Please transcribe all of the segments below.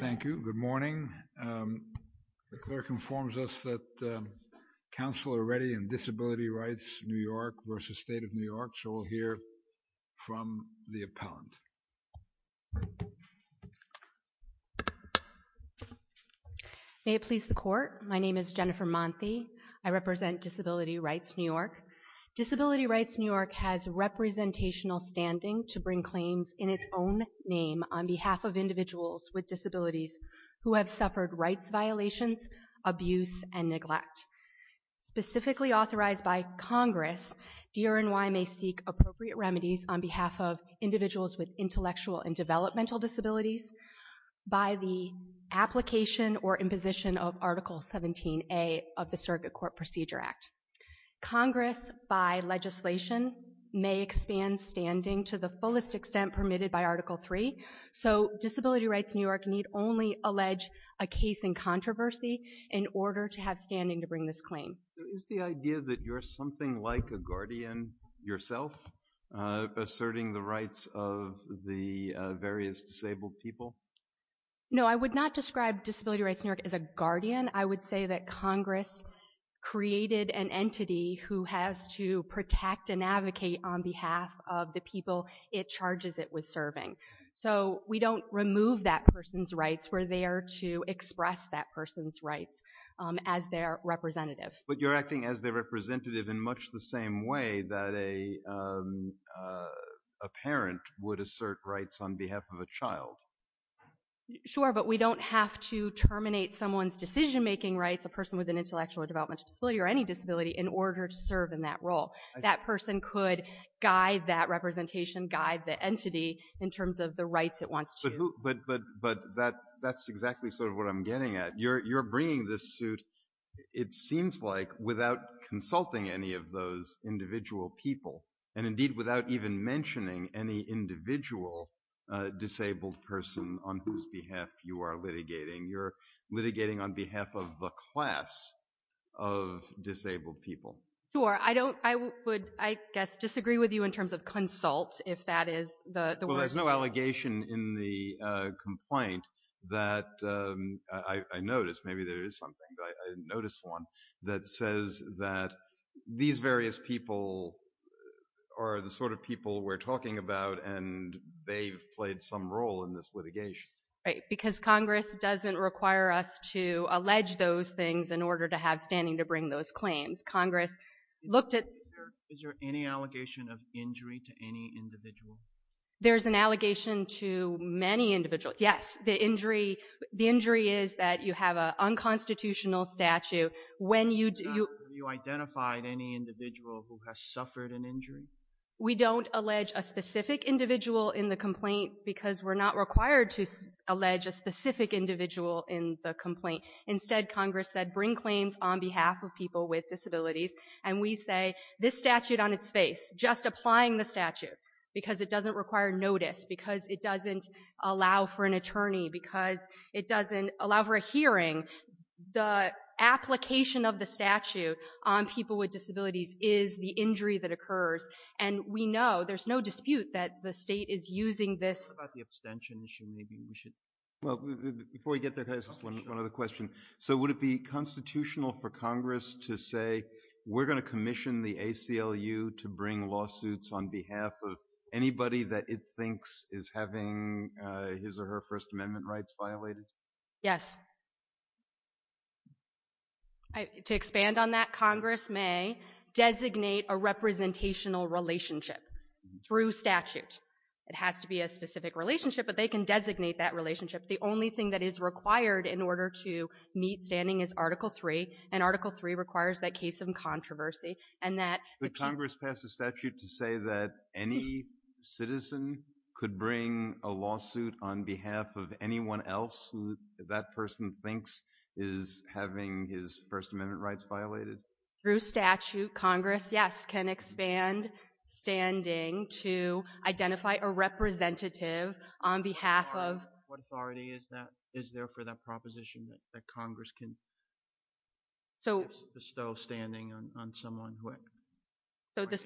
Thank you. Good morning. The clerk informs us that council are ready in Disability Rights New York v. State of New York. So we'll hear from the appellant. May it please the court. My name is Jennifer Monthe. I represent Disability Rights New York. Disability Rights New York has representational standing to bring claims in its own name on behalf of individuals with disabilities who have suffered rights violations, abuse, and neglect. Specifically authorized by Congress, DRNY may seek appropriate remedies on behalf of individuals with intellectual and developmental disabilities by the application or imposition of Article 17A of the Circuit Court Procedure Act. Congress, by legislation, may expand standing to the fullest extent permitted by Article 3. So Disability Rights New York need only allege a case in controversy in order to have standing to bring this claim. Is the idea that you're something like a guardian yourself, asserting the rights of the various disabled people? No, I would not describe Disability Rights New York as a guardian. I would say that Congress created an entity who has to protect and advocate on behalf of the people it charges it with serving. So we don't remove that person's rights. We're there to express that person's rights as their representative. But you're acting as their representative in much the same way Sure, but we don't have to terminate someone's decision-making rights, a person with an intellectual or developmental disability, or any disability, in order to serve in that role. That person could guide that representation, guide the entity, in terms of the rights it wants to... But that's exactly sort of what I'm getting at. You're bringing this suit, it seems like, without consulting any of those individual people, and indeed without even mentioning any individual disabled person on whose behalf you are litigating. You're litigating on behalf of the class of disabled people. Sure. I would, I guess, disagree with you in terms of consult, if that is the word. Well, there's no allegation in the complaint that I noticed, maybe there is something, but I didn't notice one, that says that these various people are the sort of people we're talking about and they've played some role in this litigation. Right, because Congress doesn't require us to allege those things in order to have standing to bring those claims. Congress looked at... Is there any allegation of injury to any individual? There's an allegation to many individuals. Yes, the injury is that you have an unconstitutional statute Have you identified any individual who has suffered an injury? We don't allege a specific individual in the complaint because we're not required to allege a specific individual in the complaint. Instead, Congress said bring claims on behalf of people with disabilities and we say this statute on its face, just applying the statute, because it doesn't require notice, because it doesn't allow for an attorney, because it doesn't allow for a hearing. The application of the statute on people with disabilities is the injury that occurs and we know, there's no dispute, that the state is using this... What about the abstention issue? Before we get there, one other question. So would it be constitutional for Congress to say we're going to commission the ACLU to bring lawsuits on behalf of anybody that it thinks is having his or her First Amendment rights violated? Yes. To expand on that, Congress may designate a representational relationship through statute. It has to be a specific relationship, but they can designate that relationship. The only thing that is required in order to meet standing is Article 3 and Article 3 requires that case of controversy and that... Would Congress pass a statute to say that any citizen could bring a lawsuit on behalf of anyone else that that person thinks is having his First Amendment rights violated? Through statute, Congress, yes, can expand standing to identify a representative on behalf of... What authority is there for that proposition that Congress can bestow standing on someone or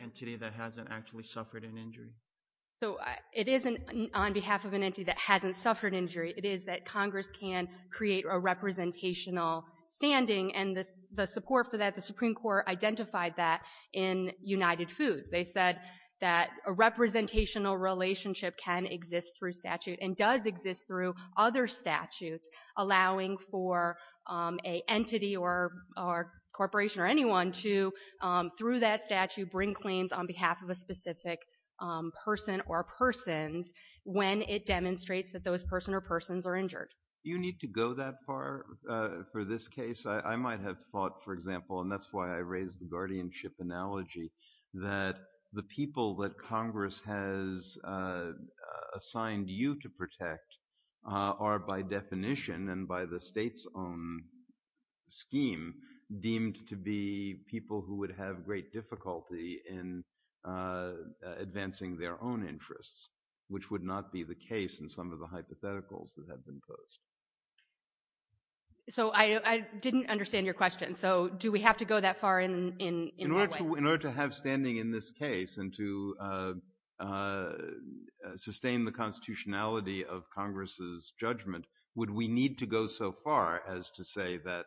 entity that hasn't actually suffered an injury? So it isn't on behalf of an entity that hasn't suffered an injury. It is that Congress can create a representational standing, and the support for that, the Supreme Court identified that in United Foods. They said that a representational relationship can exist through statute and does exist through other statutes, allowing for an entity or corporation or anyone to, through that statute, bring claims on behalf of a specific person or persons when it demonstrates that those person or persons are injured. Do you need to go that far for this case? I might have thought, for example, and that's why I raised the guardianship analogy, that the people that Congress has assigned you to protect are, by definition, and by the state's own scheme, deemed to be people who would have great difficulty in advancing their own interests, which would not be the case in some of the hypotheticals that have been posed. So I didn't understand your question. So do we have to go that far in that way? In order to have standing in this case and to sustain the constitutionality of Congress's judgment, would we need to go so far as to say that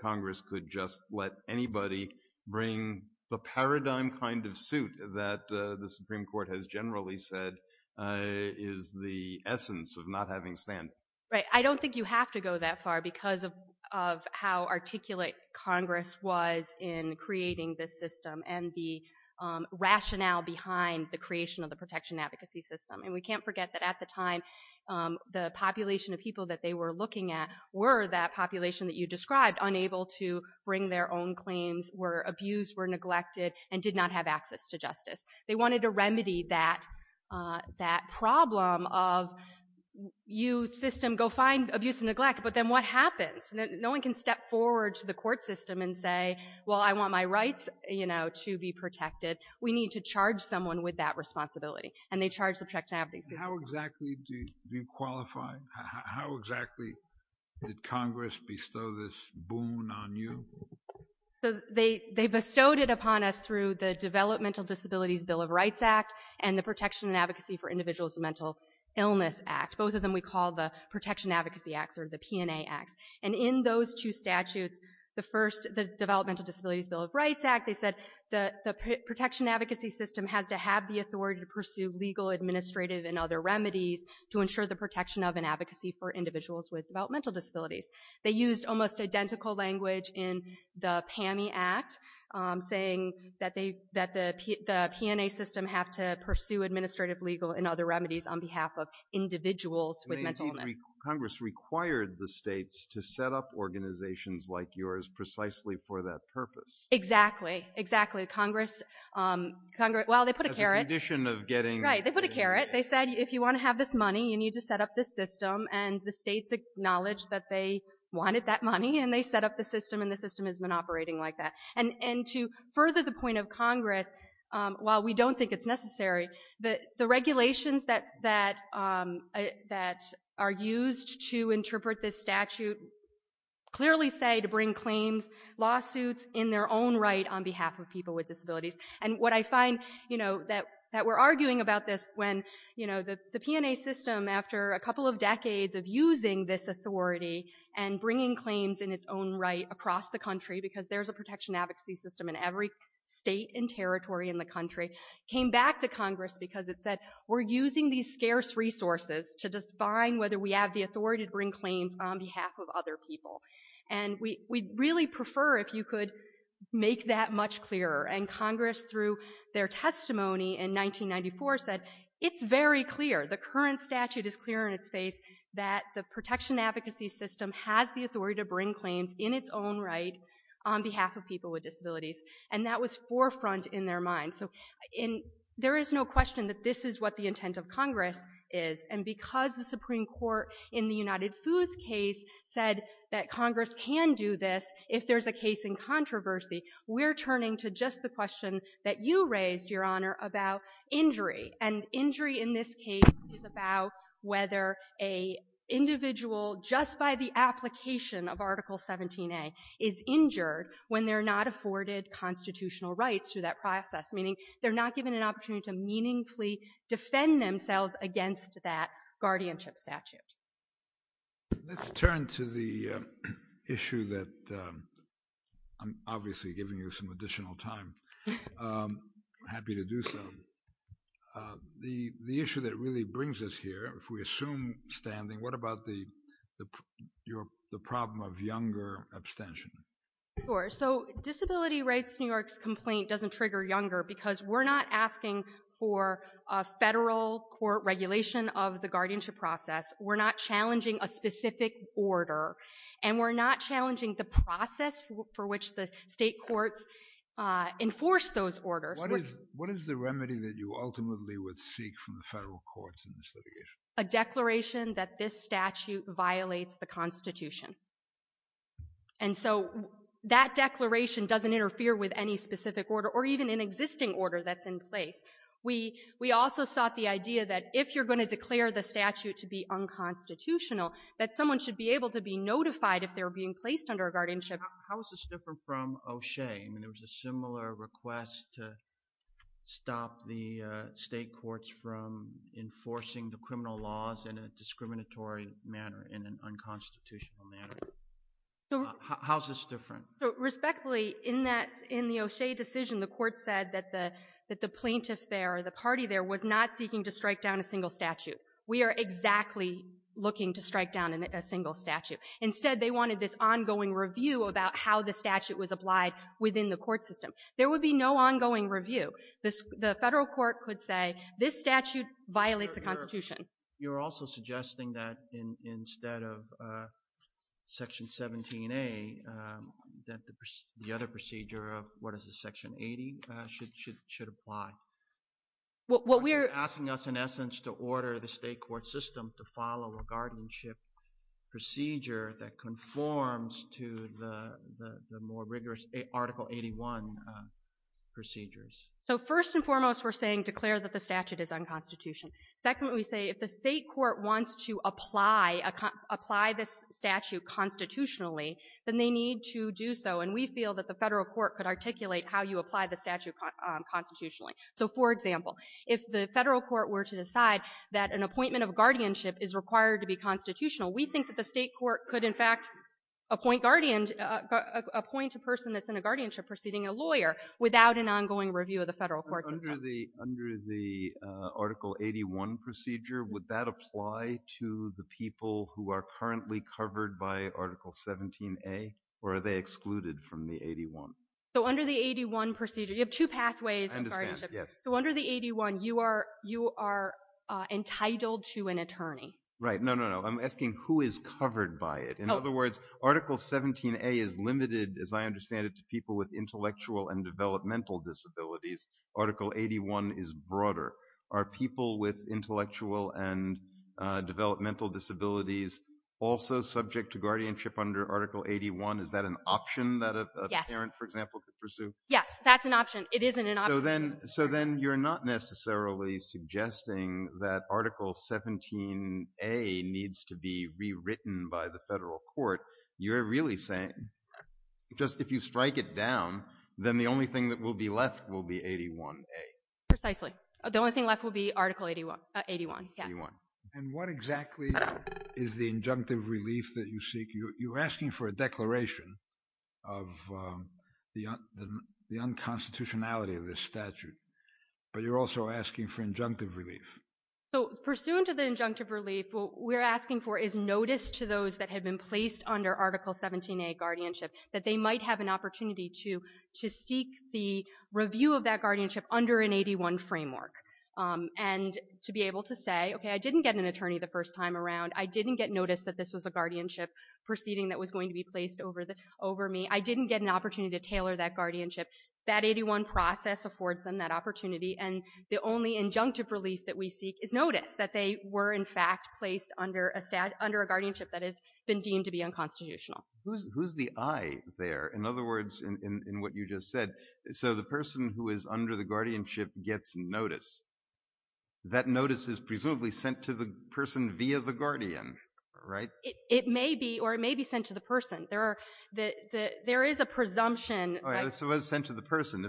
Congress could just let anybody bring the paradigm kind of suit that the Supreme Court has generally said is the essence of not having standing? I don't think you have to go that far because of how articulate Congress was in creating this system and the rationale behind the creation of the protection advocacy system. And we can't forget that at the time, the population of people that they were looking at were that population that you described, unable to bring their own claims, were abused, were neglected, and did not have access to justice. They wanted to remedy that problem of you system, go find abuse and neglect, but then what happens? No one can step forward to the court system and say, well, I want my rights to be protected. We need to charge someone with that responsibility. And they charged the protection advocacy system. How exactly do you qualify? How exactly did Congress bestow this boon on you? So they bestowed it upon us through the Developmental Disabilities Bill of Rights Act and the Protection and Advocacy for Individuals with Mental Illness Act. Both of them we call the Protection Advocacy Acts or the P&A Acts. And in those two statutes, the first, the Developmental Disabilities Bill of Rights Act, they said the protection advocacy system has to have the authority to pursue legal, administrative, and other remedies to ensure the protection of and advocacy for individuals with developmental disabilities. They used almost identical language in the PAMI Act, saying that the P&A system have to pursue administrative, legal, and other remedies on behalf of individuals with mental illness. Congress required the states to set up organizations like yours precisely for that purpose. Exactly, exactly. Congress, well, they put a carrot. As a condition of getting... Right, they put a carrot. They said if you want to have this money, you need to set up this system. And the states acknowledged that they wanted that money, and they set up the system, and the system has been operating like that. And to further the point of Congress, while we don't think it's necessary, the regulations that are used to interpret this statute clearly say to bring claims, lawsuits, in their own right on behalf of people with disabilities. And what I find, you know, that we're arguing about this when, you know, the P&A system, after a couple of decades of using this authority and bringing claims in its own right across the country, because there's a protection advocacy system in every state and territory in the country, came back to Congress because it said, we're using these scarce resources to define whether we have the authority to bring claims on behalf of other people. And we'd really prefer if you could make that much clearer. And Congress, through their testimony in 1994, said it's very clear, the current statute is clear in its face, that the protection advocacy system has the authority to bring claims in its own right on behalf of people with disabilities. And that was forefront in their mind. So there is no question that this is what the intent of Congress is. And because the Supreme Court in the United Foods case said that Congress can do this if there's a case in controversy, we're turning to just the question that you raised, Your Honor, about injury. And injury in this case is about whether an individual, just by the application of Article 17a, is injured when they're not afforded constitutional rights through that process, meaning they're not given an opportunity to meaningfully defend themselves against that guardianship statute. Let's turn to the issue that I'm obviously giving you some additional time. I'm happy to do so. The issue that really brings us here, if we assume standing, what about the problem of younger abstention? Disability Rights New York's complaint doesn't trigger younger because we're not asking for a federal court regulation of the guardianship process. We're not challenging a specific order. And we're not challenging the process for which the state courts enforce those orders. What is the remedy that you ultimately would seek from the federal courts in this litigation? A declaration that this statute violates the Constitution. And so that declaration doesn't interfere with any specific order or even an existing order that's in place. We also sought the idea that if you're going to declare the statute to be unconstitutional, that someone should be able to be notified if they're being placed under a guardianship. How is this different from O'Shea? There was a similar request to stop the state courts from enforcing the criminal laws in a discriminatory manner, in an unconstitutional manner. How is this different? Respectfully, in the O'Shea decision, the court said that the plaintiff there or the party there was not seeking to strike down a single statute. We are exactly looking to strike down a single statute. Instead, they wanted this ongoing review about how the statute was applied within the court system. There would be no ongoing review. The federal court could say this statute violates the Constitution. You're also suggesting that instead of Section 17A, that the other procedure of what is this, Section 80, should apply. What we are asking us, in essence, to order the state court system to follow a guardianship procedure that conforms to the more rigorous Article 81 procedures. So first and foremost, we're saying declare that the statute is unconstitutional. Second, we say if the state court wants to apply this statute constitutionally, then they need to do so. And we feel that the federal court could articulate how you apply the statute constitutionally. So, for example, if the federal court were to decide that an appointment of guardianship is required to be constitutional, we think that the state court could, in fact, appoint a person that's in a guardianship proceeding a lawyer without an ongoing review of the federal court system. So under the Article 81 procedure, would that apply to the people who are currently covered by Article 17A, or are they excluded from the 81? So under the 81 procedure, you have two pathways of guardianship. So under the 81, you are entitled to an attorney. Right. No, no, no. I'm asking who is covered by it. In other words, Article 17A is limited, as I understand it, to people with intellectual and developmental disabilities. Article 81 is broader. Are people with intellectual and developmental disabilities also subject to guardianship under Article 81? Is that an option that a parent, for example, could pursue? Yes, that's an option. It is an option. So then you're not necessarily suggesting that Article 17A needs to be rewritten by the federal court. You're really saying just if you strike it down, then the only thing that will be left will be 81A. Precisely. The only thing left will be Article 81. And what exactly is the injunctive relief that you seek? You're asking for a declaration of the unconstitutionality of this statute, but you're also asking for injunctive relief. So pursuant to the injunctive relief, what we're asking for is notice to those that have been placed under Article 17A guardianship that they might have an opportunity to seek the review of that guardianship under an 81 framework and to be able to say, okay, I didn't get an attorney the first time around. I didn't get notice that this was a guardianship proceeding that was going to be placed over me. I didn't get an opportunity to tailor that guardianship. That 81 process affords them that opportunity, and the only injunctive relief that we seek is notice that they were in fact placed under a guardianship that has been deemed to be unconstitutional. Who's the I there? In other words, in what you just said, so the person who is under the guardianship gets notice. That notice is presumably sent to the person via the guardian, right? It may be, or it may be sent to the person. There is a presumption. So it was sent to the person.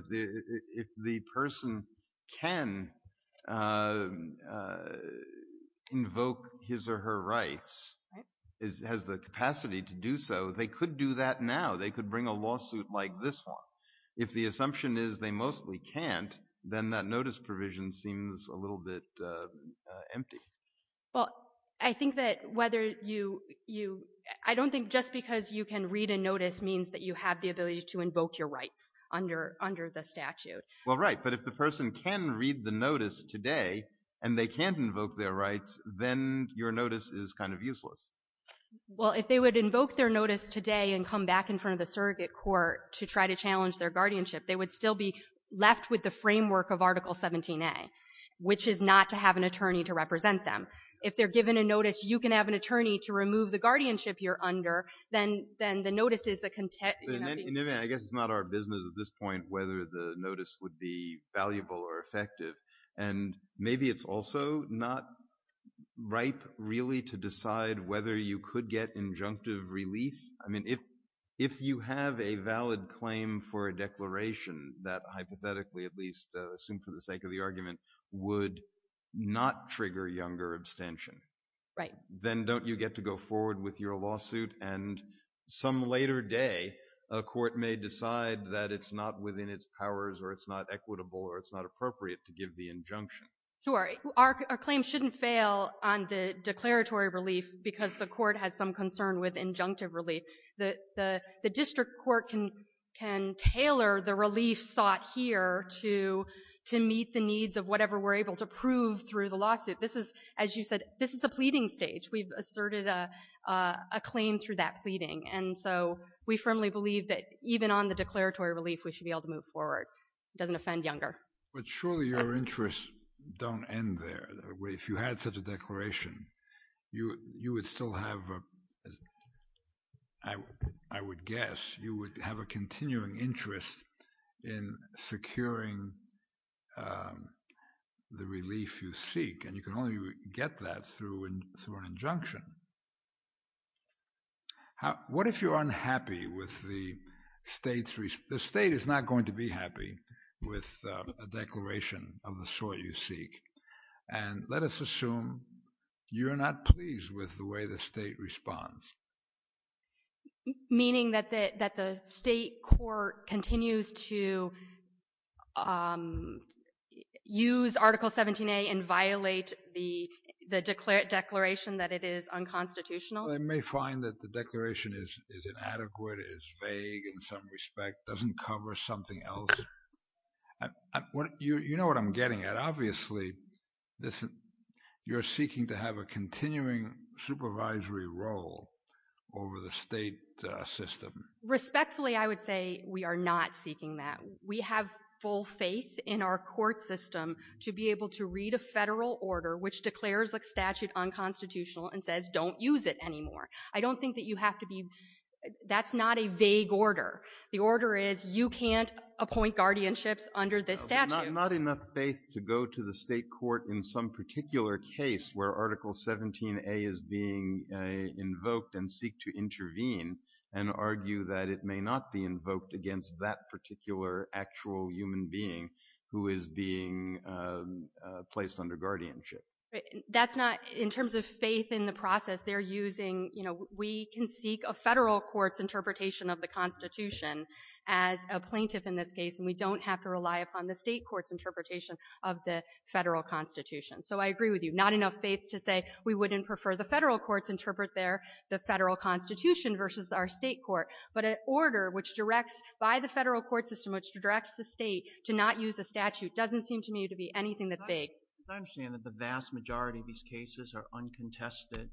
If the person can invoke his or her rights, has the capacity to do so, they could do that now. They could bring a lawsuit like this one. If the assumption is they mostly can't, then that notice provision seems a little bit empty. Well, I think that whether you – I don't think just because you can read a notice means that you have the ability to invoke your rights under the statute. Well, right, but if the person can read the notice today and they can't invoke their rights, then your notice is kind of useless. Well, if they would invoke their notice today and come back in front of the surrogate court to try to challenge their guardianship, they would still be left with the framework of Article 17a, which is not to have an attorney to represent them. If they're given a notice, you can have an attorney to remove the guardianship you're under, then the notice is a – I guess it's not our business at this point whether the notice would be valuable or effective, and maybe it's also not ripe really to decide whether you could get injunctive relief. I mean, if you have a valid claim for a declaration that hypothetically at least, assumed for the sake of the argument, would not trigger younger abstention, then don't you get to go forward with your lawsuit and some later day a court may decide that it's not within its powers or it's not equitable or it's not appropriate to give the injunction? Sure. Our claim shouldn't fail on the declaratory relief because the court has some concern with injunctive relief. The district court can tailor the relief sought here to meet the needs of whatever we're able to prove through the lawsuit. This is, as you said, this is the pleading stage. We've asserted a claim through that pleading, and so we firmly believe that even on the declaratory relief, we should be able to move forward. It doesn't offend younger. But surely your interests don't end there. If you had such a declaration, you would still have, I would guess, you would have a continuing interest in securing the relief you seek, and you can only get that through an injunction. What if you're unhappy with the state's response? The state is not going to be happy with a declaration of the sort you seek, and let us assume you're not pleased with the way the state responds. Meaning that the state court continues to use Article 17a and violate the declaration that it is unconstitutional? They may find that the declaration is inadequate, is vague in some respect, doesn't cover something else. You know what I'm getting at. Obviously, you're seeking to have a continuing supervisory role over the state system. Respectfully, I would say we are not seeking that. We have full faith in our court system to be able to read a federal order which declares a statute unconstitutional and says don't use it anymore. I don't think that you have to be, that's not a vague order. The order is you can't appoint guardianships under this statute. Not enough faith to go to the state court in some particular case where Article 17a is being invoked and seek to intervene and argue that it may not be invoked against that particular actual human being who is being placed under guardianship. That's not, in terms of faith in the process, they're using, you know, we can seek a federal court's interpretation of the Constitution as a plaintiff in this case and we don't have to rely upon the state court's interpretation of the federal Constitution. So I agree with you. Not enough faith to say we wouldn't prefer the federal courts interpret their, the federal Constitution versus our state court. But an order which directs, by the federal court system, which directs the state to not use a statute doesn't seem to me to be anything that's vague. I understand that the vast majority of these cases are uncontested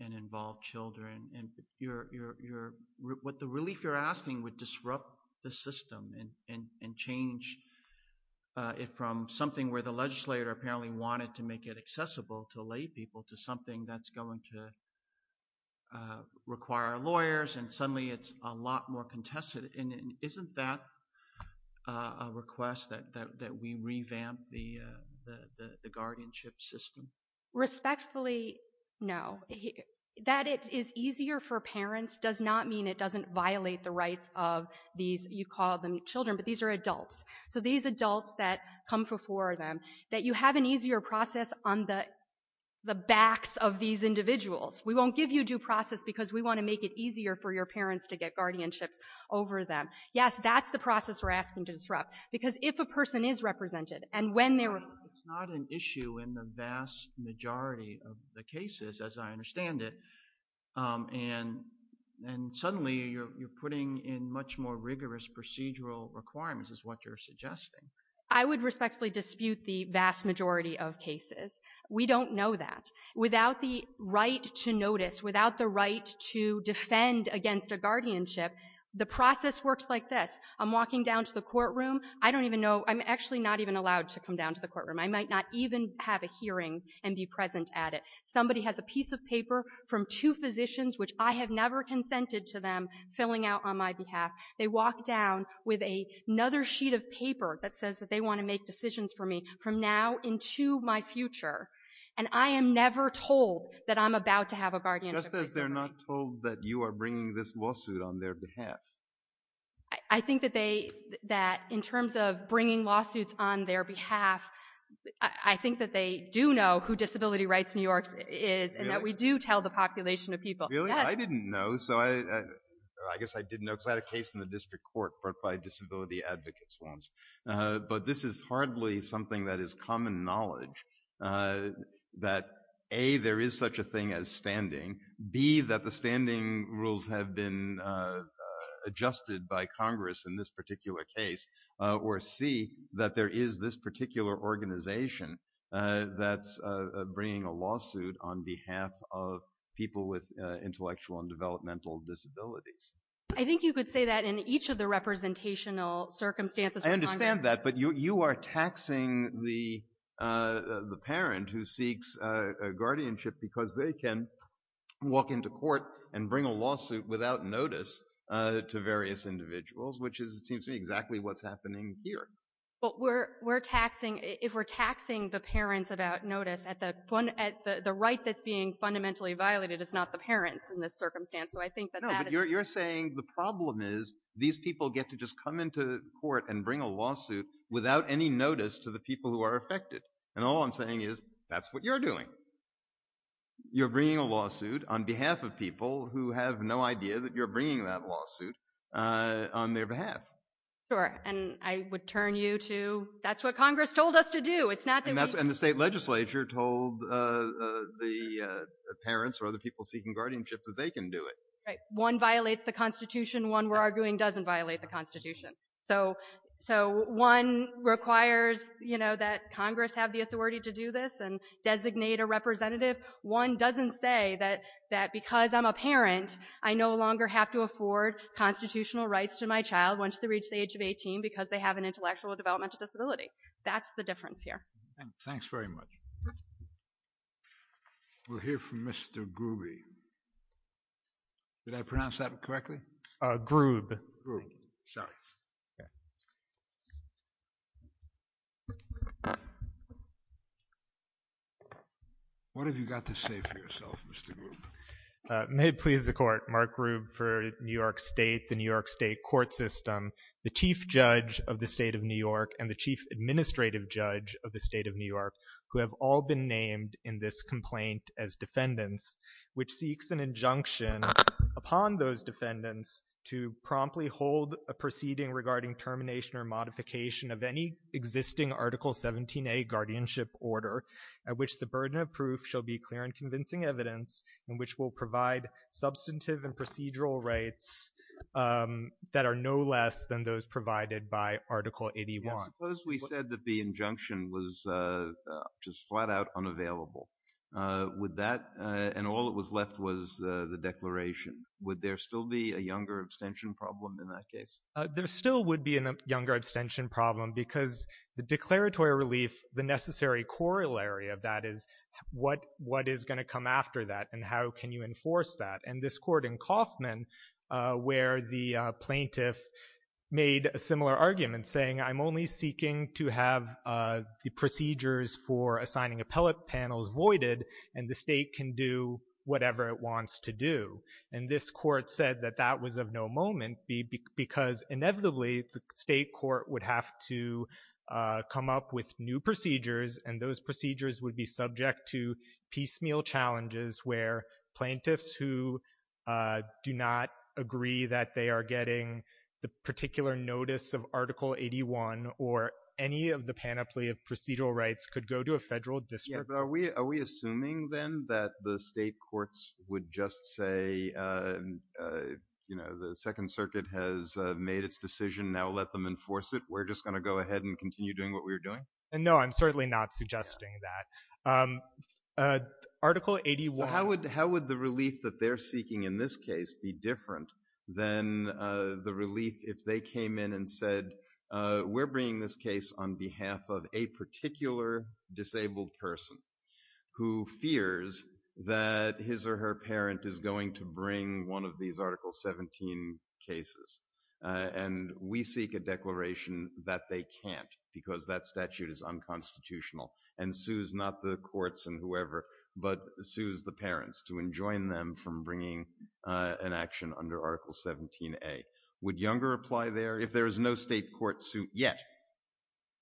and involve children. What the relief you're asking would disrupt the system and change it from something where the legislator apparently wanted to make it accessible to lay people to something that's going to require lawyers and suddenly it's a lot more contested. And isn't that a request that we revamp the guardianship system? Respectfully, no. That it is easier for parents does not mean it doesn't violate the rights of these, you call them children, but these are adults. So these adults that come before them, that you have an easier process on the backs of these individuals. We won't give you due process because we want to make it easier for your parents to get guardianships over them. Yes, that's the process we're asking to disrupt. Because if a person is represented and when they're... It's not an issue in the vast majority of the cases, as I understand it. And suddenly you're putting in much more rigorous procedural requirements is what you're suggesting. I would respectfully dispute the vast majority of cases. We don't know that. Without the right to notice, without the right to defend against a guardianship, the process works like this. I'm walking down to the courtroom. I don't even know. I'm actually not even allowed to come down to the courtroom. I might not even have a hearing and be present at it. Somebody has a piece of paper from two physicians which I have never consented to them filling out on my behalf. They walk down with another sheet of paper that says that they want to make decisions for me from now into my future. And I am never told that I'm about to have a guardianship. Just as they're not told that you are bringing this lawsuit on their behalf. I think that in terms of bringing lawsuits on their behalf, I think that they do know who Disability Rights New York is and that we do tell the population of people. Really? I didn't know. I guess I didn't know because I had a case in the district court brought by disability advocates once. But this is hardly something that is common knowledge. That A, there is such a thing as standing. B, that the standing rules have been adjusted by Congress in this particular case. Or C, that there is this particular organization that's bringing a lawsuit on behalf of people with intellectual and developmental disabilities. I think you could say that in each of the representational circumstances. I understand that. But you are taxing the parent who seeks guardianship because they can walk into court and bring a lawsuit without notice to various individuals, which is, it seems to me, exactly what's happening here. But we're taxing, if we're taxing the parents without notice, the right that's being fundamentally violated is not the parents in this circumstance. No, but you're saying the problem is these people get to just come into court and bring a lawsuit without any notice to the people who are affected. And all I'm saying is that's what you're doing. You're bringing a lawsuit on behalf of people who have no idea that you're bringing that lawsuit on their behalf. Sure, and I would turn you to, that's what Congress told us to do. And the state legislature told the parents or other people seeking guardianship that they can do it. Right, one violates the Constitution, one we're arguing doesn't violate the Constitution. So one requires that Congress have the authority to do this and designate a representative. One doesn't say that because I'm a parent, I no longer have to afford constitutional rights to my child once they reach the age of 18 because they have an intellectual or developmental disability. That's the difference here. Thanks very much. We'll hear from Mr. Grubbe. Did I pronounce that correctly? Grubbe. Grubbe, sorry. What have you got to say for yourself, Mr. Grubbe? May it please the court. Mark Grubbe for New York State, the New York State court system. The chief judge of the state of New York and the chief administrative judge of the state of New York who have all been named in this complaint as defendants, which seeks an injunction upon those defendants to promptly hold a proceeding regarding termination or modification of any existing Article 17a guardianship order at which the burden of proof shall be clear and convincing evidence and which will provide substantive and procedural rights that are no less than those provided by Article 81. Suppose we said that the injunction was just flat out unavailable. And all that was left was the declaration. Would there still be a younger abstention problem in that case? There still would be a younger abstention problem because the declaratory relief, the necessary corollary of that is what is going to come after that and how can you enforce that? And this court in Kauffman, where the plaintiff made a similar argument saying, I'm only seeking to have the procedures for assigning appellate panels voided and the state can do whatever it wants to do. And this court said that that was of no moment because inevitably the state court would have to come up with new procedures and those procedures would be subject to piecemeal challenges where plaintiffs who do not agree that they are getting the particular notice of Article 81 or any of the panoply of procedural rights could go to a federal district. Are we assuming then that the state courts would just say, you know, the Second Circuit has made its decision, now let them enforce it? We're just going to go ahead and continue doing what we were doing? No, I'm certainly not suggesting that. Article 81. but sues the parents to enjoin them from bringing an action under Article 17A. Would younger apply there if there is no state court suit yet?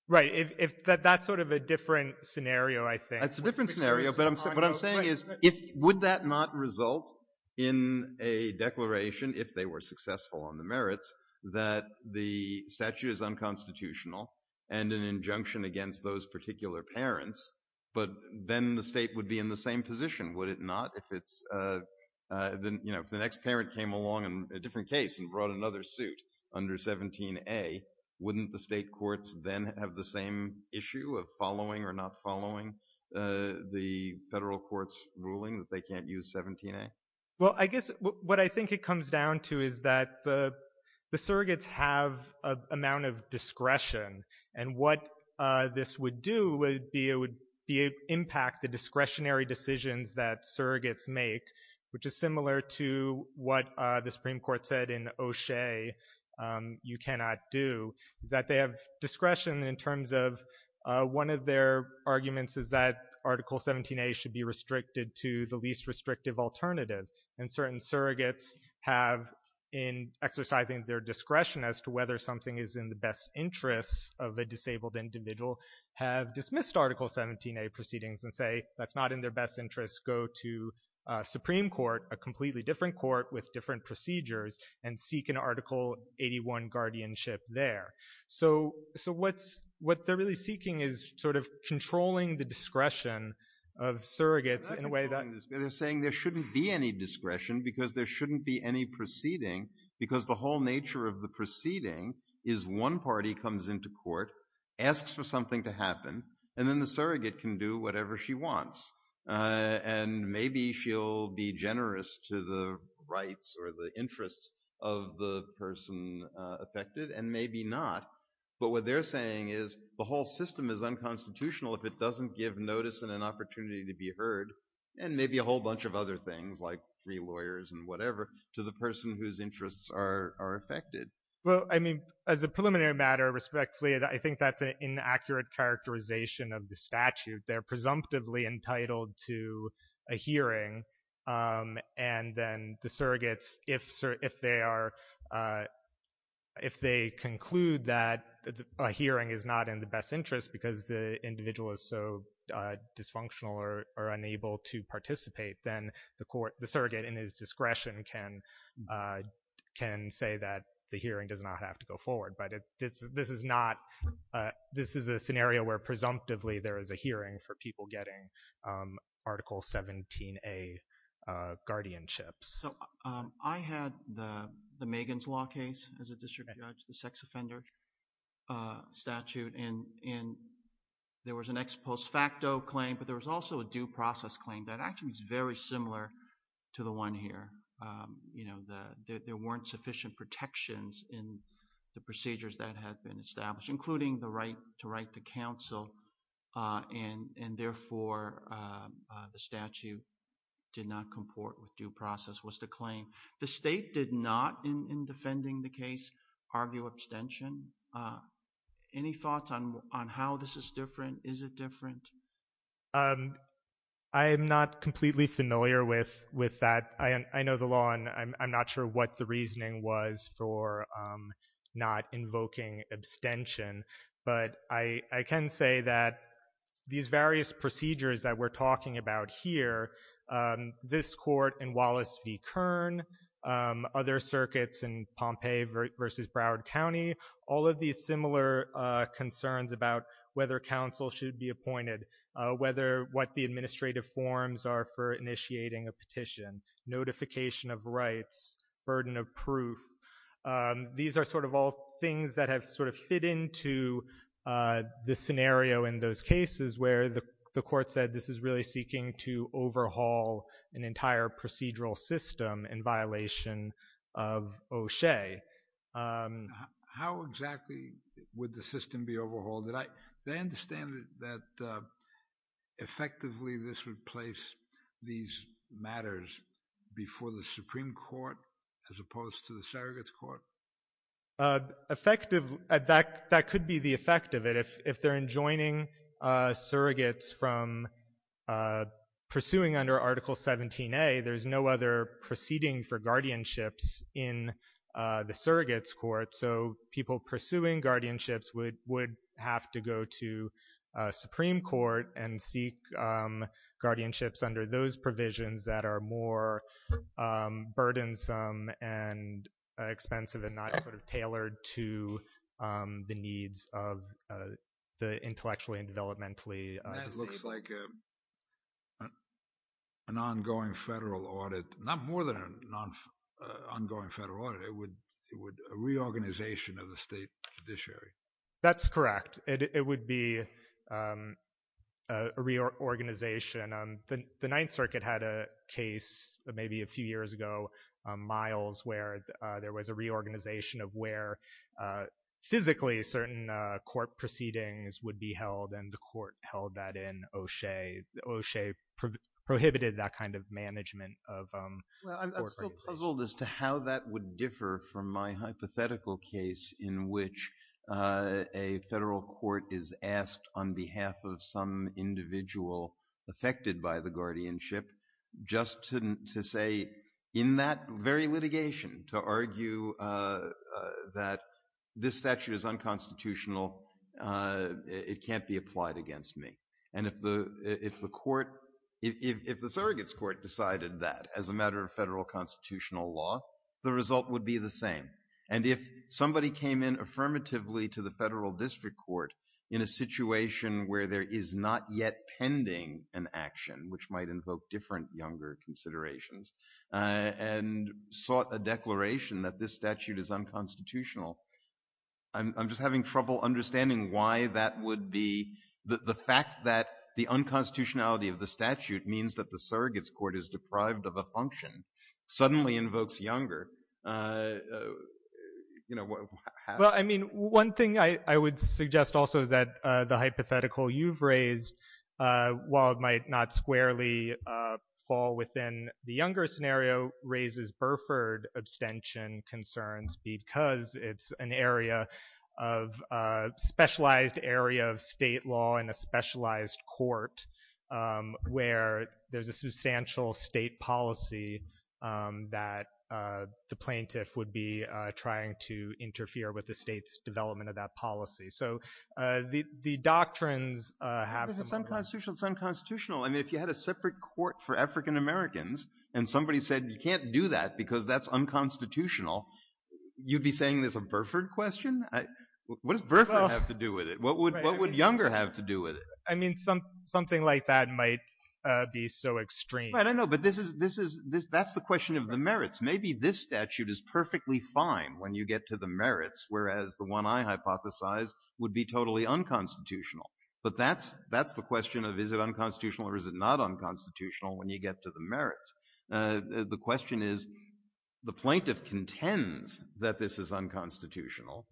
Right, that's sort of a different scenario, I think. But what I'm saying is, would that not result in a declaration, if they were successful on the merits, that the statute is unconstitutional and an injunction against those particular parents, but then the state would be in the same position, would it not? If the next parent came along in a different case and brought another suit under 17A, wouldn't the state courts then have the same issue of following or not following the federal court's ruling that they can't use 17A? Well, I guess what I think it comes down to is that the surrogates have an amount of discretion, and what this would do would be it would impact the discretionary decisions that surrogates make, which is similar to what the Supreme Court said in O'Shea, you cannot do, is that they have discretion in terms of, one of their arguments is that Article 17A should be restricted to the least restrictive alternative, and certain surrogates have, in exercising their discretion as to whether something is in the best interests of a disabled individual, have dismissed Article 17A proceedings and say, that's not in their best interests, go to Supreme Court, a completely different court with different procedures, and seek an Article 81 guardianship there. So what they're really seeking is sort of controlling the discretion of surrogates in a way that— And then the surrogate can do whatever she wants. And maybe she'll be generous to the rights or the interests of the person affected, and maybe not. But what they're saying is, the whole system is unconstitutional if it doesn't give notice and an opportunity to be heard, and maybe a whole bunch of other things like free lawyers and whatever, to the person whose interests are affected. Well, I mean, as a preliminary matter, respectfully, I think that's an inaccurate characterization of the statute. They're presumptively entitled to a hearing. And then the surrogates, if they are—if they conclude that a hearing is not in the best interest because the individual is so dysfunctional or unable to participate, then the court—the surrogate, in his discretion, can say that the hearing does not have to go forward. But this is not—this is a scenario where, presumptively, there is a hearing for people getting Article 17a guardianships. So I had the Megan's Law case as a district judge, the sex offender statute, and there was an ex post facto claim, but there was also a due process claim that actually is very similar to the one here. There weren't sufficient protections in the procedures that had been established, including the right to write to counsel, and therefore, the statute did not comport with due process. What's the claim? The state did not, in defending the case, argue abstention. Any thoughts on how this is different? Is it different? I am not completely familiar with that. I know the law, and I'm not sure what the reasoning was for not invoking abstention. But I can say that these various procedures that we're talking about here—this court in Wallace v. Kern, other circuits in Pompeii v. Broward County—all of these similar concerns about whether counsel should be appointed, what the administrative forms are for initiating a petition, notification of rights, burden of proof—these are sort of all things that have sort of fit into the scenario in those cases where the court said this is really seeking to overhaul an entire procedural system in violation of OSHA. How exactly would the system be overhauled? Do I understand that effectively this would place these matters before the Supreme Court as opposed to the surrogates court? That could be the effect of it. If they're enjoining surrogates from pursuing under Article 17a, there's no other proceeding for guardianships in the surrogates court. So people pursuing guardianships would have to go to Supreme Court and seek guardianships under those provisions that are more burdensome and expensive and not sort of tailored to the needs of the intellectually and developmentally disabled. It looks like an ongoing federal audit—not more than an ongoing federal audit—it would be a reorganization of the state judiciary. Well, I'm still puzzled as to how that would differ from my hypothetical case in which a federal court is asked on behalf of some individual affected by the guardianship just to say in that very litigation to argue that this statute is unconstitutional, it can't be applied against me. And if the court—if the surrogates court decided that as a matter of federal constitutional law, the result would be the same. And if somebody came in affirmatively to the federal district court in a situation where there is not yet pending an action, which might invoke different younger considerations, and sought a declaration that this statute is unconstitutional, I'm just having trouble understanding why that would be—the fact that the unconstitutionality of the statute means that the surrogates court is deprived of a function suddenly invokes younger— It's an area of—specialized area of state law and a specialized court where there's a substantial state policy that the plaintiff would be trying to interfere with the state's development of that policy. So the doctrines have— It's unconstitutional. It's unconstitutional. I mean, if you had a separate court for African Americans and somebody said you can't do that because that's unconstitutional, you'd be saying there's a Burford question? What does Burford have to do with it? What would younger have to do with it? I mean, something like that might be so extreme. I don't know, but this is—that's the question of the merits. Maybe this statute is perfectly fine when you get to the merits, whereas the one I hypothesize would be totally unconstitutional. But that's the question of is it unconstitutional or is it not unconstitutional when you get to the merits. The question is the plaintiff contends that this is unconstitutional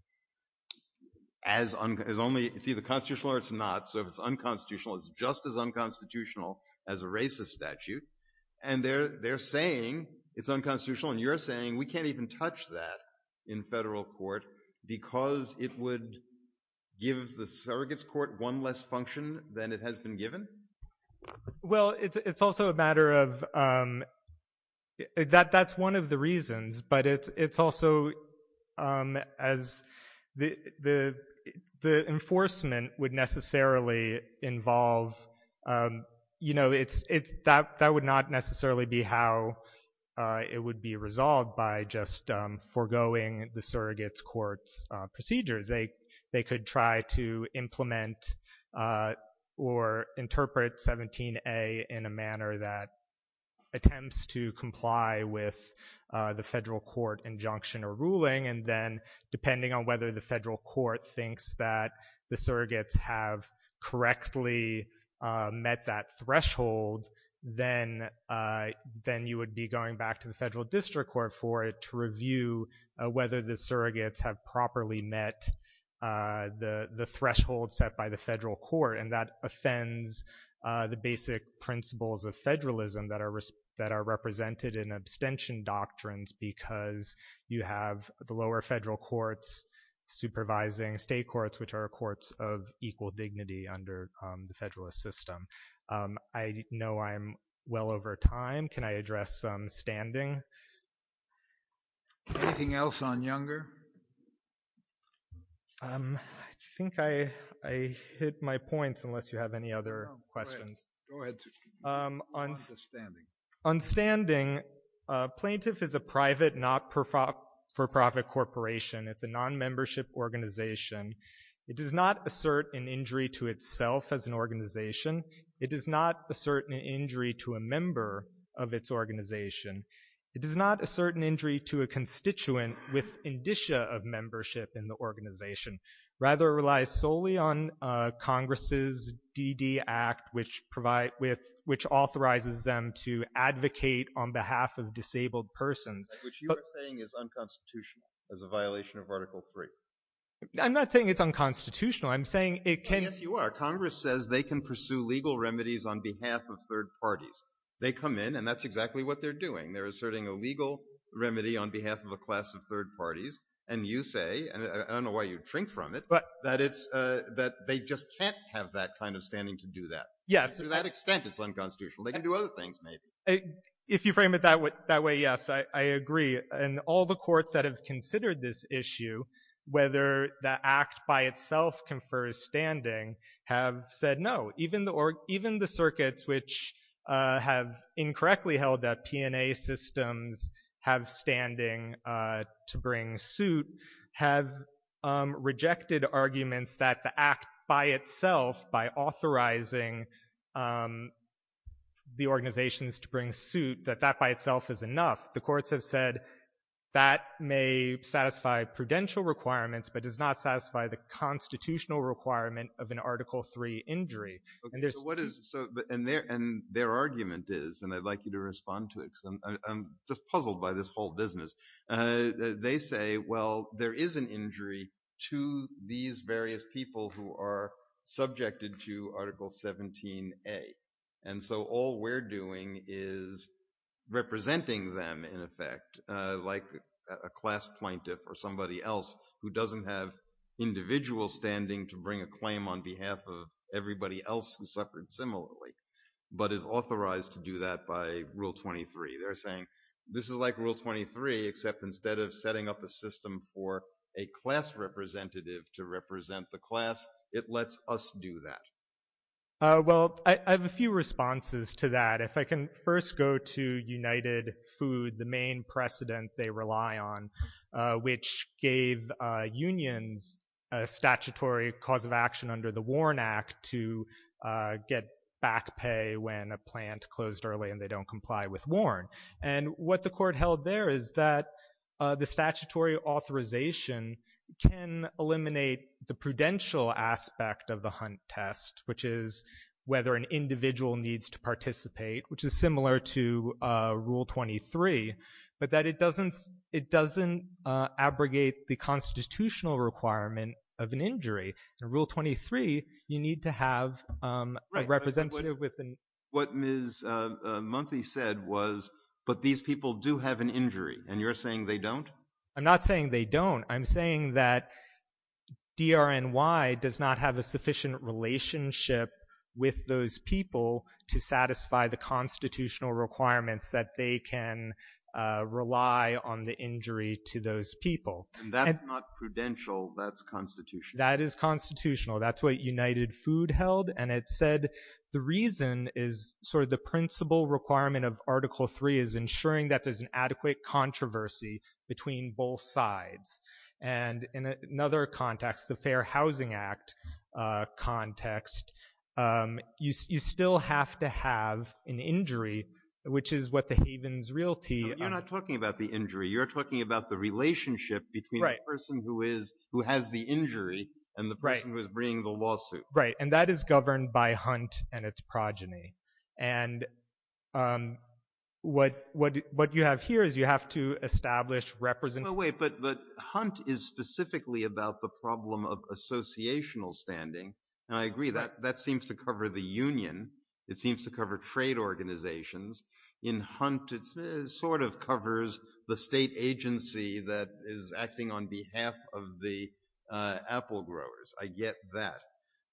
as only—it's either constitutional or it's not. So if it's unconstitutional, it's just as unconstitutional as a racist statute. And they're saying it's unconstitutional, and you're saying we can't even touch that in federal court because it would give the surrogates court one less function than it has been given? Well, it's also a matter of—that's one of the reasons, but it's also as the enforcement would necessarily involve—you know, that would not necessarily be how it would be resolved by just foregoing the surrogates court's procedures. They could try to implement or interpret 17a in a manner that attempts to comply with the federal court injunction or ruling, and then depending on whether the federal court thinks that the surrogates have correctly met that threshold, then you would be going back to the federal district court for it to review whether the surrogates have properly met the threshold set by the federal court, and that offends the basic principles of federalism that are represented in abstention doctrines because you have the lower federal courts supervising state courts, which are courts of equal dignity under the federalist system. I know I'm well over time. Can I address standing? Anything else on Younger? I think I hit my points, unless you have any other questions. Go ahead. On standing, plaintiff is a private, not-for-profit corporation. It's a non-membership organization. It does not assert an injury to itself as an organization. It does not assert an injury to a member of its organization. It does not assert an injury to a constituent with indicia of membership in the organization. Rather, it relies solely on Congress's DD Act, which authorizes them to advocate on behalf of disabled persons. Which you are saying is unconstitutional as a violation of Article III. I'm not saying it's unconstitutional. I'm saying it can— Yes, you are. Congress says they can pursue legal remedies on behalf of third parties. They come in, and that's exactly what they're doing. They're asserting a legal remedy on behalf of a class of third parties, and you say, and I don't know why you'd shrink from it, that they just can't have that kind of standing to do that. Yes. To that extent, it's unconstitutional. They can do other things, maybe. If you frame it that way, yes, I agree. And all the courts that have considered this issue, whether the Act by itself confers standing, have said no. Even the circuits which have incorrectly held that P&A systems have standing to bring suit have rejected arguments that the Act by itself, by authorizing the organizations to bring suit, that that by itself is enough. The courts have said that may satisfy prudential requirements but does not satisfy the constitutional requirement of an Article III injury. Okay, so what is—and their argument is, and I'd like you to respond to it because I'm just puzzled by this whole business. They say, well, there is an injury to these various people who are subjected to Article 17A. And so all we're doing is representing them, in effect, like a class plaintiff or somebody else who doesn't have individual standing to bring a claim on behalf of everybody else who suffered similarly but is authorized to do that by Rule 23. They're saying this is like Rule 23 except instead of setting up a system for a class representative to represent the class, it lets us do that. Well, I have a few responses to that. If I can first go to United Food, the main precedent they rely on, which gave unions a statutory cause of action under the Warren Act to get back pay when a plant closed early and they don't comply with Warren. And what the court held there is that the statutory authorization can eliminate the prudential aspect of the Hunt test, which is whether an individual needs to participate, which is similar to Rule 23, but that it doesn't abrogate the constitutional requirement of an injury. In Rule 23, you need to have a representative with an injury. Right, but what Ms. Munthy said was, but these people do have an injury, and you're saying they don't? I'm not saying they don't. I'm saying that DRNY does not have a sufficient relationship with those people to satisfy the constitutional requirements that they can rely on the injury to those people. And that's not prudential. That's constitutional. That is constitutional. That's what United Food held, and it said the reason is sort of the principal requirement of Article 3 is ensuring that there's an adequate controversy between both sides. And in another context, the Fair Housing Act context, you still have to have an injury, which is what the Havens Realty— Right, and that is governed by Hunt and its progeny. And what you have here is you have to establish— No, wait, but Hunt is specifically about the problem of associational standing, and I agree. That seems to cover the union. It seems to cover trade organizations. In Hunt, it sort of covers the state agency that is acting on behalf of the apple growers. I get that.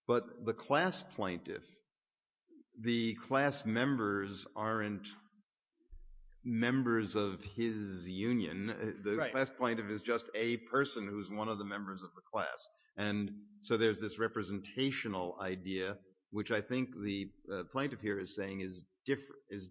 But the class plaintiff, the class members aren't members of his union. The class plaintiff is just a person who's one of the members of the class. And so there's this representational idea, which I think the plaintiff here is saying is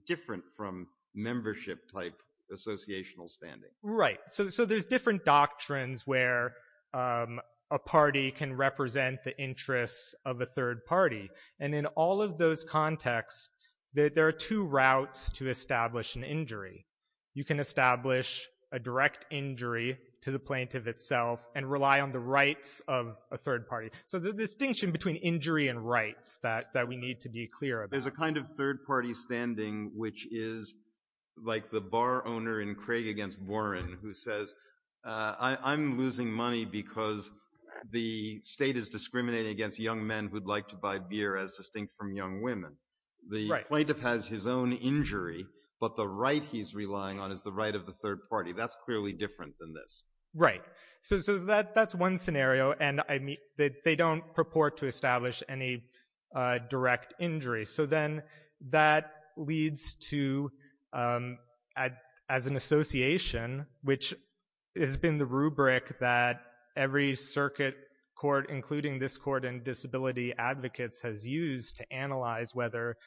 different from membership-type associational standing. Right, so there's different doctrines where a party can represent the interests of a third party. And in all of those contexts, there are two routes to establish an injury. You can establish a direct injury to the plaintiff itself and rely on the rights of a third party. So there's a distinction between injury and rights that we need to be clear about. There's a kind of third party standing which is like the bar owner in Craig Against Warren who says, I'm losing money because the state is discriminating against young men who'd like to buy beer as distinct from young women. The plaintiff has his own injury, but the right he's relying on is the right of the third party. Right. So that's one scenario, and they don't purport to establish any direct injury. So then that leads to, as an association, which has been the rubric that every circuit court, including this court and disability advocates, has used to analyze whether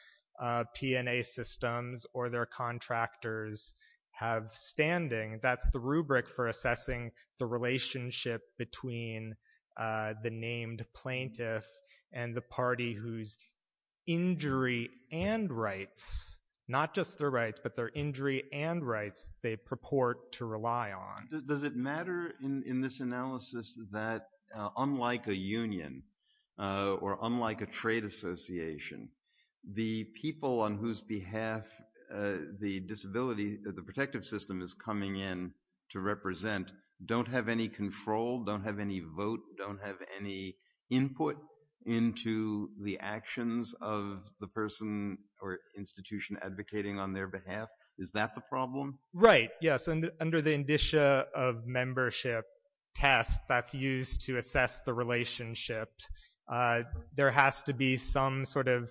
P&A systems or their contractors have standing. That's the rubric for assessing the relationship between the named plaintiff and the party whose injury and rights, not just their rights, but their injury and rights they purport to rely on. Does it matter in this analysis that unlike a union or unlike a trade association, the people on whose behalf the disability, the protective system is coming in to represent don't have any control, don't have any vote, don't have any input into the actions of the person or institution advocating on their behalf? Is that the problem? Right, yes. So that's under the indicia of membership test that's used to assess the relationships. There has to be some sort of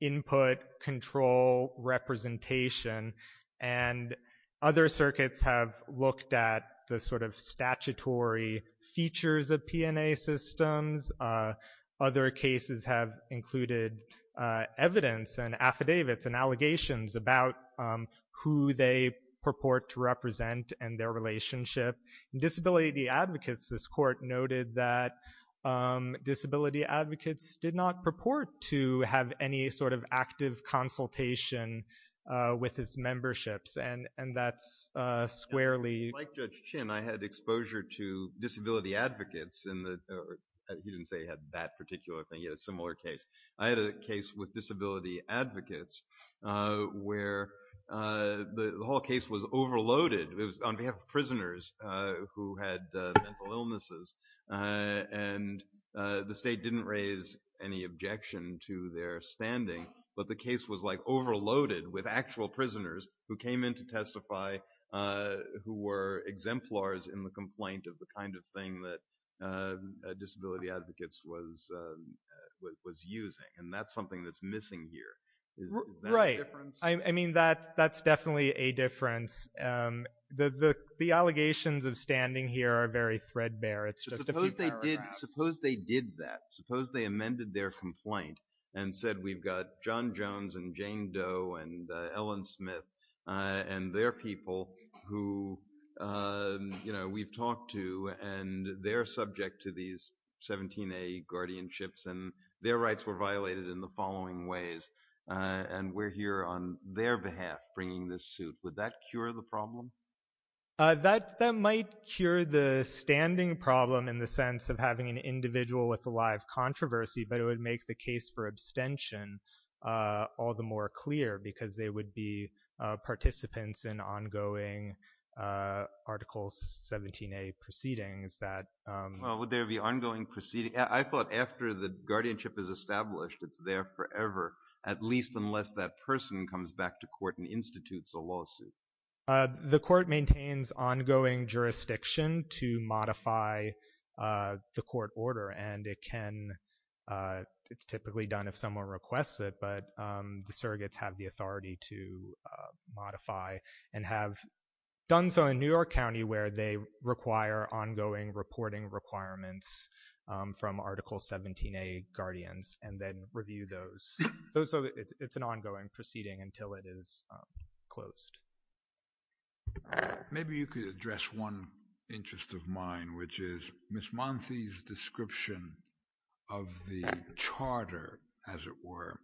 input control representation, and other circuits have looked at the sort of statutory features of P&A systems. Other cases have included evidence and affidavits and allegations about who they purport to represent and their relationship. Disability advocates, this court noted that disability advocates did not purport to have any sort of active consultation with his memberships, and that's squarely... I had a case with disability advocates where the whole case was overloaded. It was on behalf of prisoners who had mental illnesses, and the state didn't raise any objection to their standing, but the case was like overloaded with actual prisoners who came in to testify, who were exemplars in the complaint of the kind of thing that disability advocates was using, and that's something that's missing here. Right. I mean, that's definitely a difference. The allegations of standing here are very threadbare. It's just a few paragraphs. Suppose they did that. Suppose they amended their complaint and said, we've got John Jones and Jane Doe and Ellen Smith and their people who we've talked to, and they're subject to these 17A guardianships, and their rights were violated in the following ways, and we're here on their behalf bringing this suit. Would that cure the problem? That might cure the standing problem in the sense of having an individual with a live controversy, but it would make the case for abstention all the more clear, because they would be participants in ongoing Article 17A proceedings. Would there be ongoing proceedings? I thought after the guardianship is established, it's there forever, at least unless that person comes back to court and institutes a lawsuit. The court maintains ongoing jurisdiction to modify the court order, and it's typically done if someone requests it, but the surrogates have the authority to modify and have done so in New York County where they require ongoing reporting requirements from Article 17A guardians and then review those, so it's an ongoing proceeding until it is closed. Maybe you could address one interest of mine, which is Ms. Monty's description of the charter, as it were,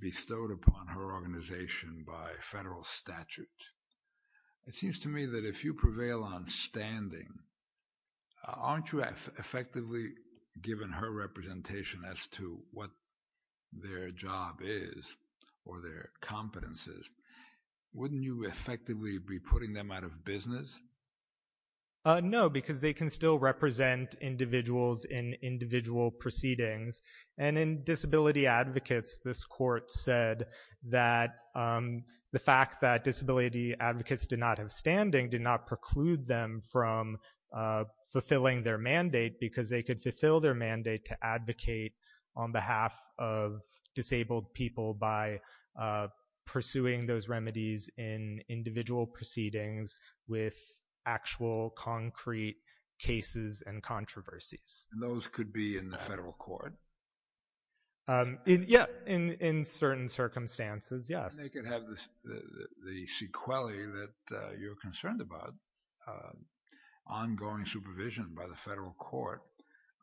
bestowed upon her organization by federal statute. It seems to me that if you prevail on standing, aren't you effectively giving her representation as to what their job is or their competence is? Wouldn't you effectively be putting them out of business? No, because they can still represent individuals in individual proceedings, and in Disability Advocates, this court said that the fact that Disability Advocates did not have standing did not preclude them from fulfilling their mandate, because they could fulfill their mandate to advocate on behalf of disabled people by pursuing those remedies in individual proceedings with actual concrete cases and controversies. And those could be in the federal court? Yeah, in certain circumstances, yes. They could have the sequelae that you're concerned about, ongoing supervision by the federal court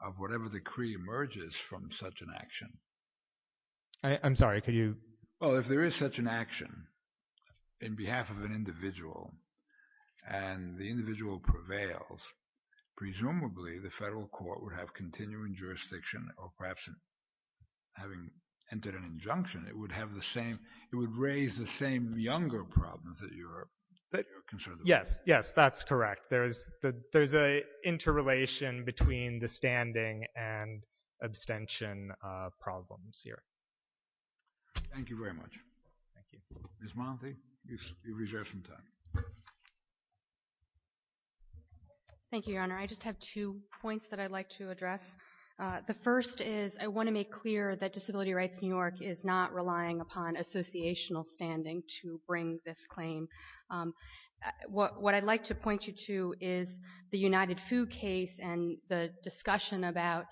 of whatever decree emerges from such an action. I'm sorry, could you? Well, if there is such an action in behalf of an individual and the individual prevails, presumably the federal court would have continuing jurisdiction, or perhaps having entered an injunction, it would have the same, it would raise the same younger problems that you're concerned about. Yes, yes, that's correct. There's an interrelation between the standing and abstention problems here. Thank you very much. Ms. Monty, you've reserved some time. Thank you, Your Honor. I just have two points that I'd like to address. The first is I want to make clear that Disability Rights New York is not relying upon associational standing to bring this claim. What I'd like to point you to is the United Food case and the discussion about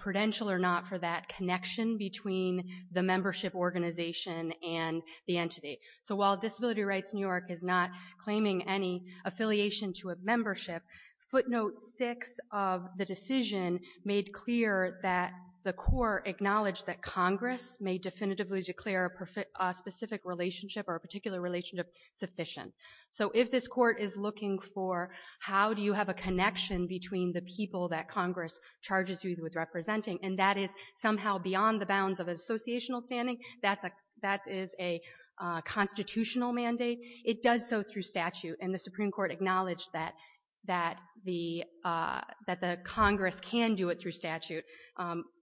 prudential or not for that connection between the membership organization and the entity. So while Disability Rights New York is not claiming any affiliation to a membership, footnote six of the decision made clear that the court acknowledged that Congress may definitively declare a specific relationship or a particular relationship sufficient. So if this court is looking for how do you have a connection between the people that Congress charges you with representing, and that is somehow beyond the bounds of associational standing, that is a constitutional mandate, it does so through statute, and the Supreme Court acknowledged that the Congress can do it through statute.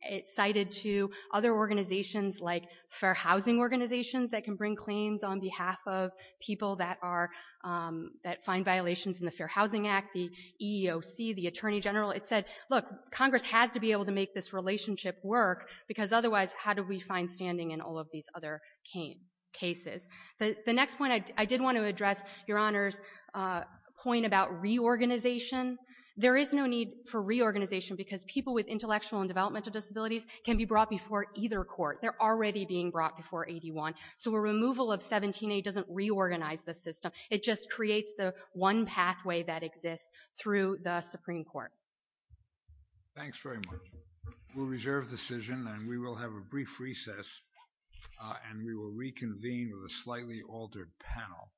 It cited to other organizations like fair housing organizations that can bring claims on behalf of people that find violations in the Fair Housing Act, the EEOC, the Attorney General. It said, look, Congress has to be able to make this relationship work because otherwise how do we find standing in all of these other cases? The next point I did want to address, Your Honors, a point about reorganization. There is no need for reorganization because people with intellectual and developmental disabilities can be brought before either court. They're already being brought before 81. So a removal of 17A doesn't reorganize the system. It just creates the one pathway that exists through the Supreme Court. Thanks very much. We'll reserve the decision and we will have a brief recess and we will reconvene with a slightly altered panel.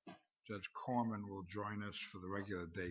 Judge Corman will join us for the regular day calendar at 1130. Thank you.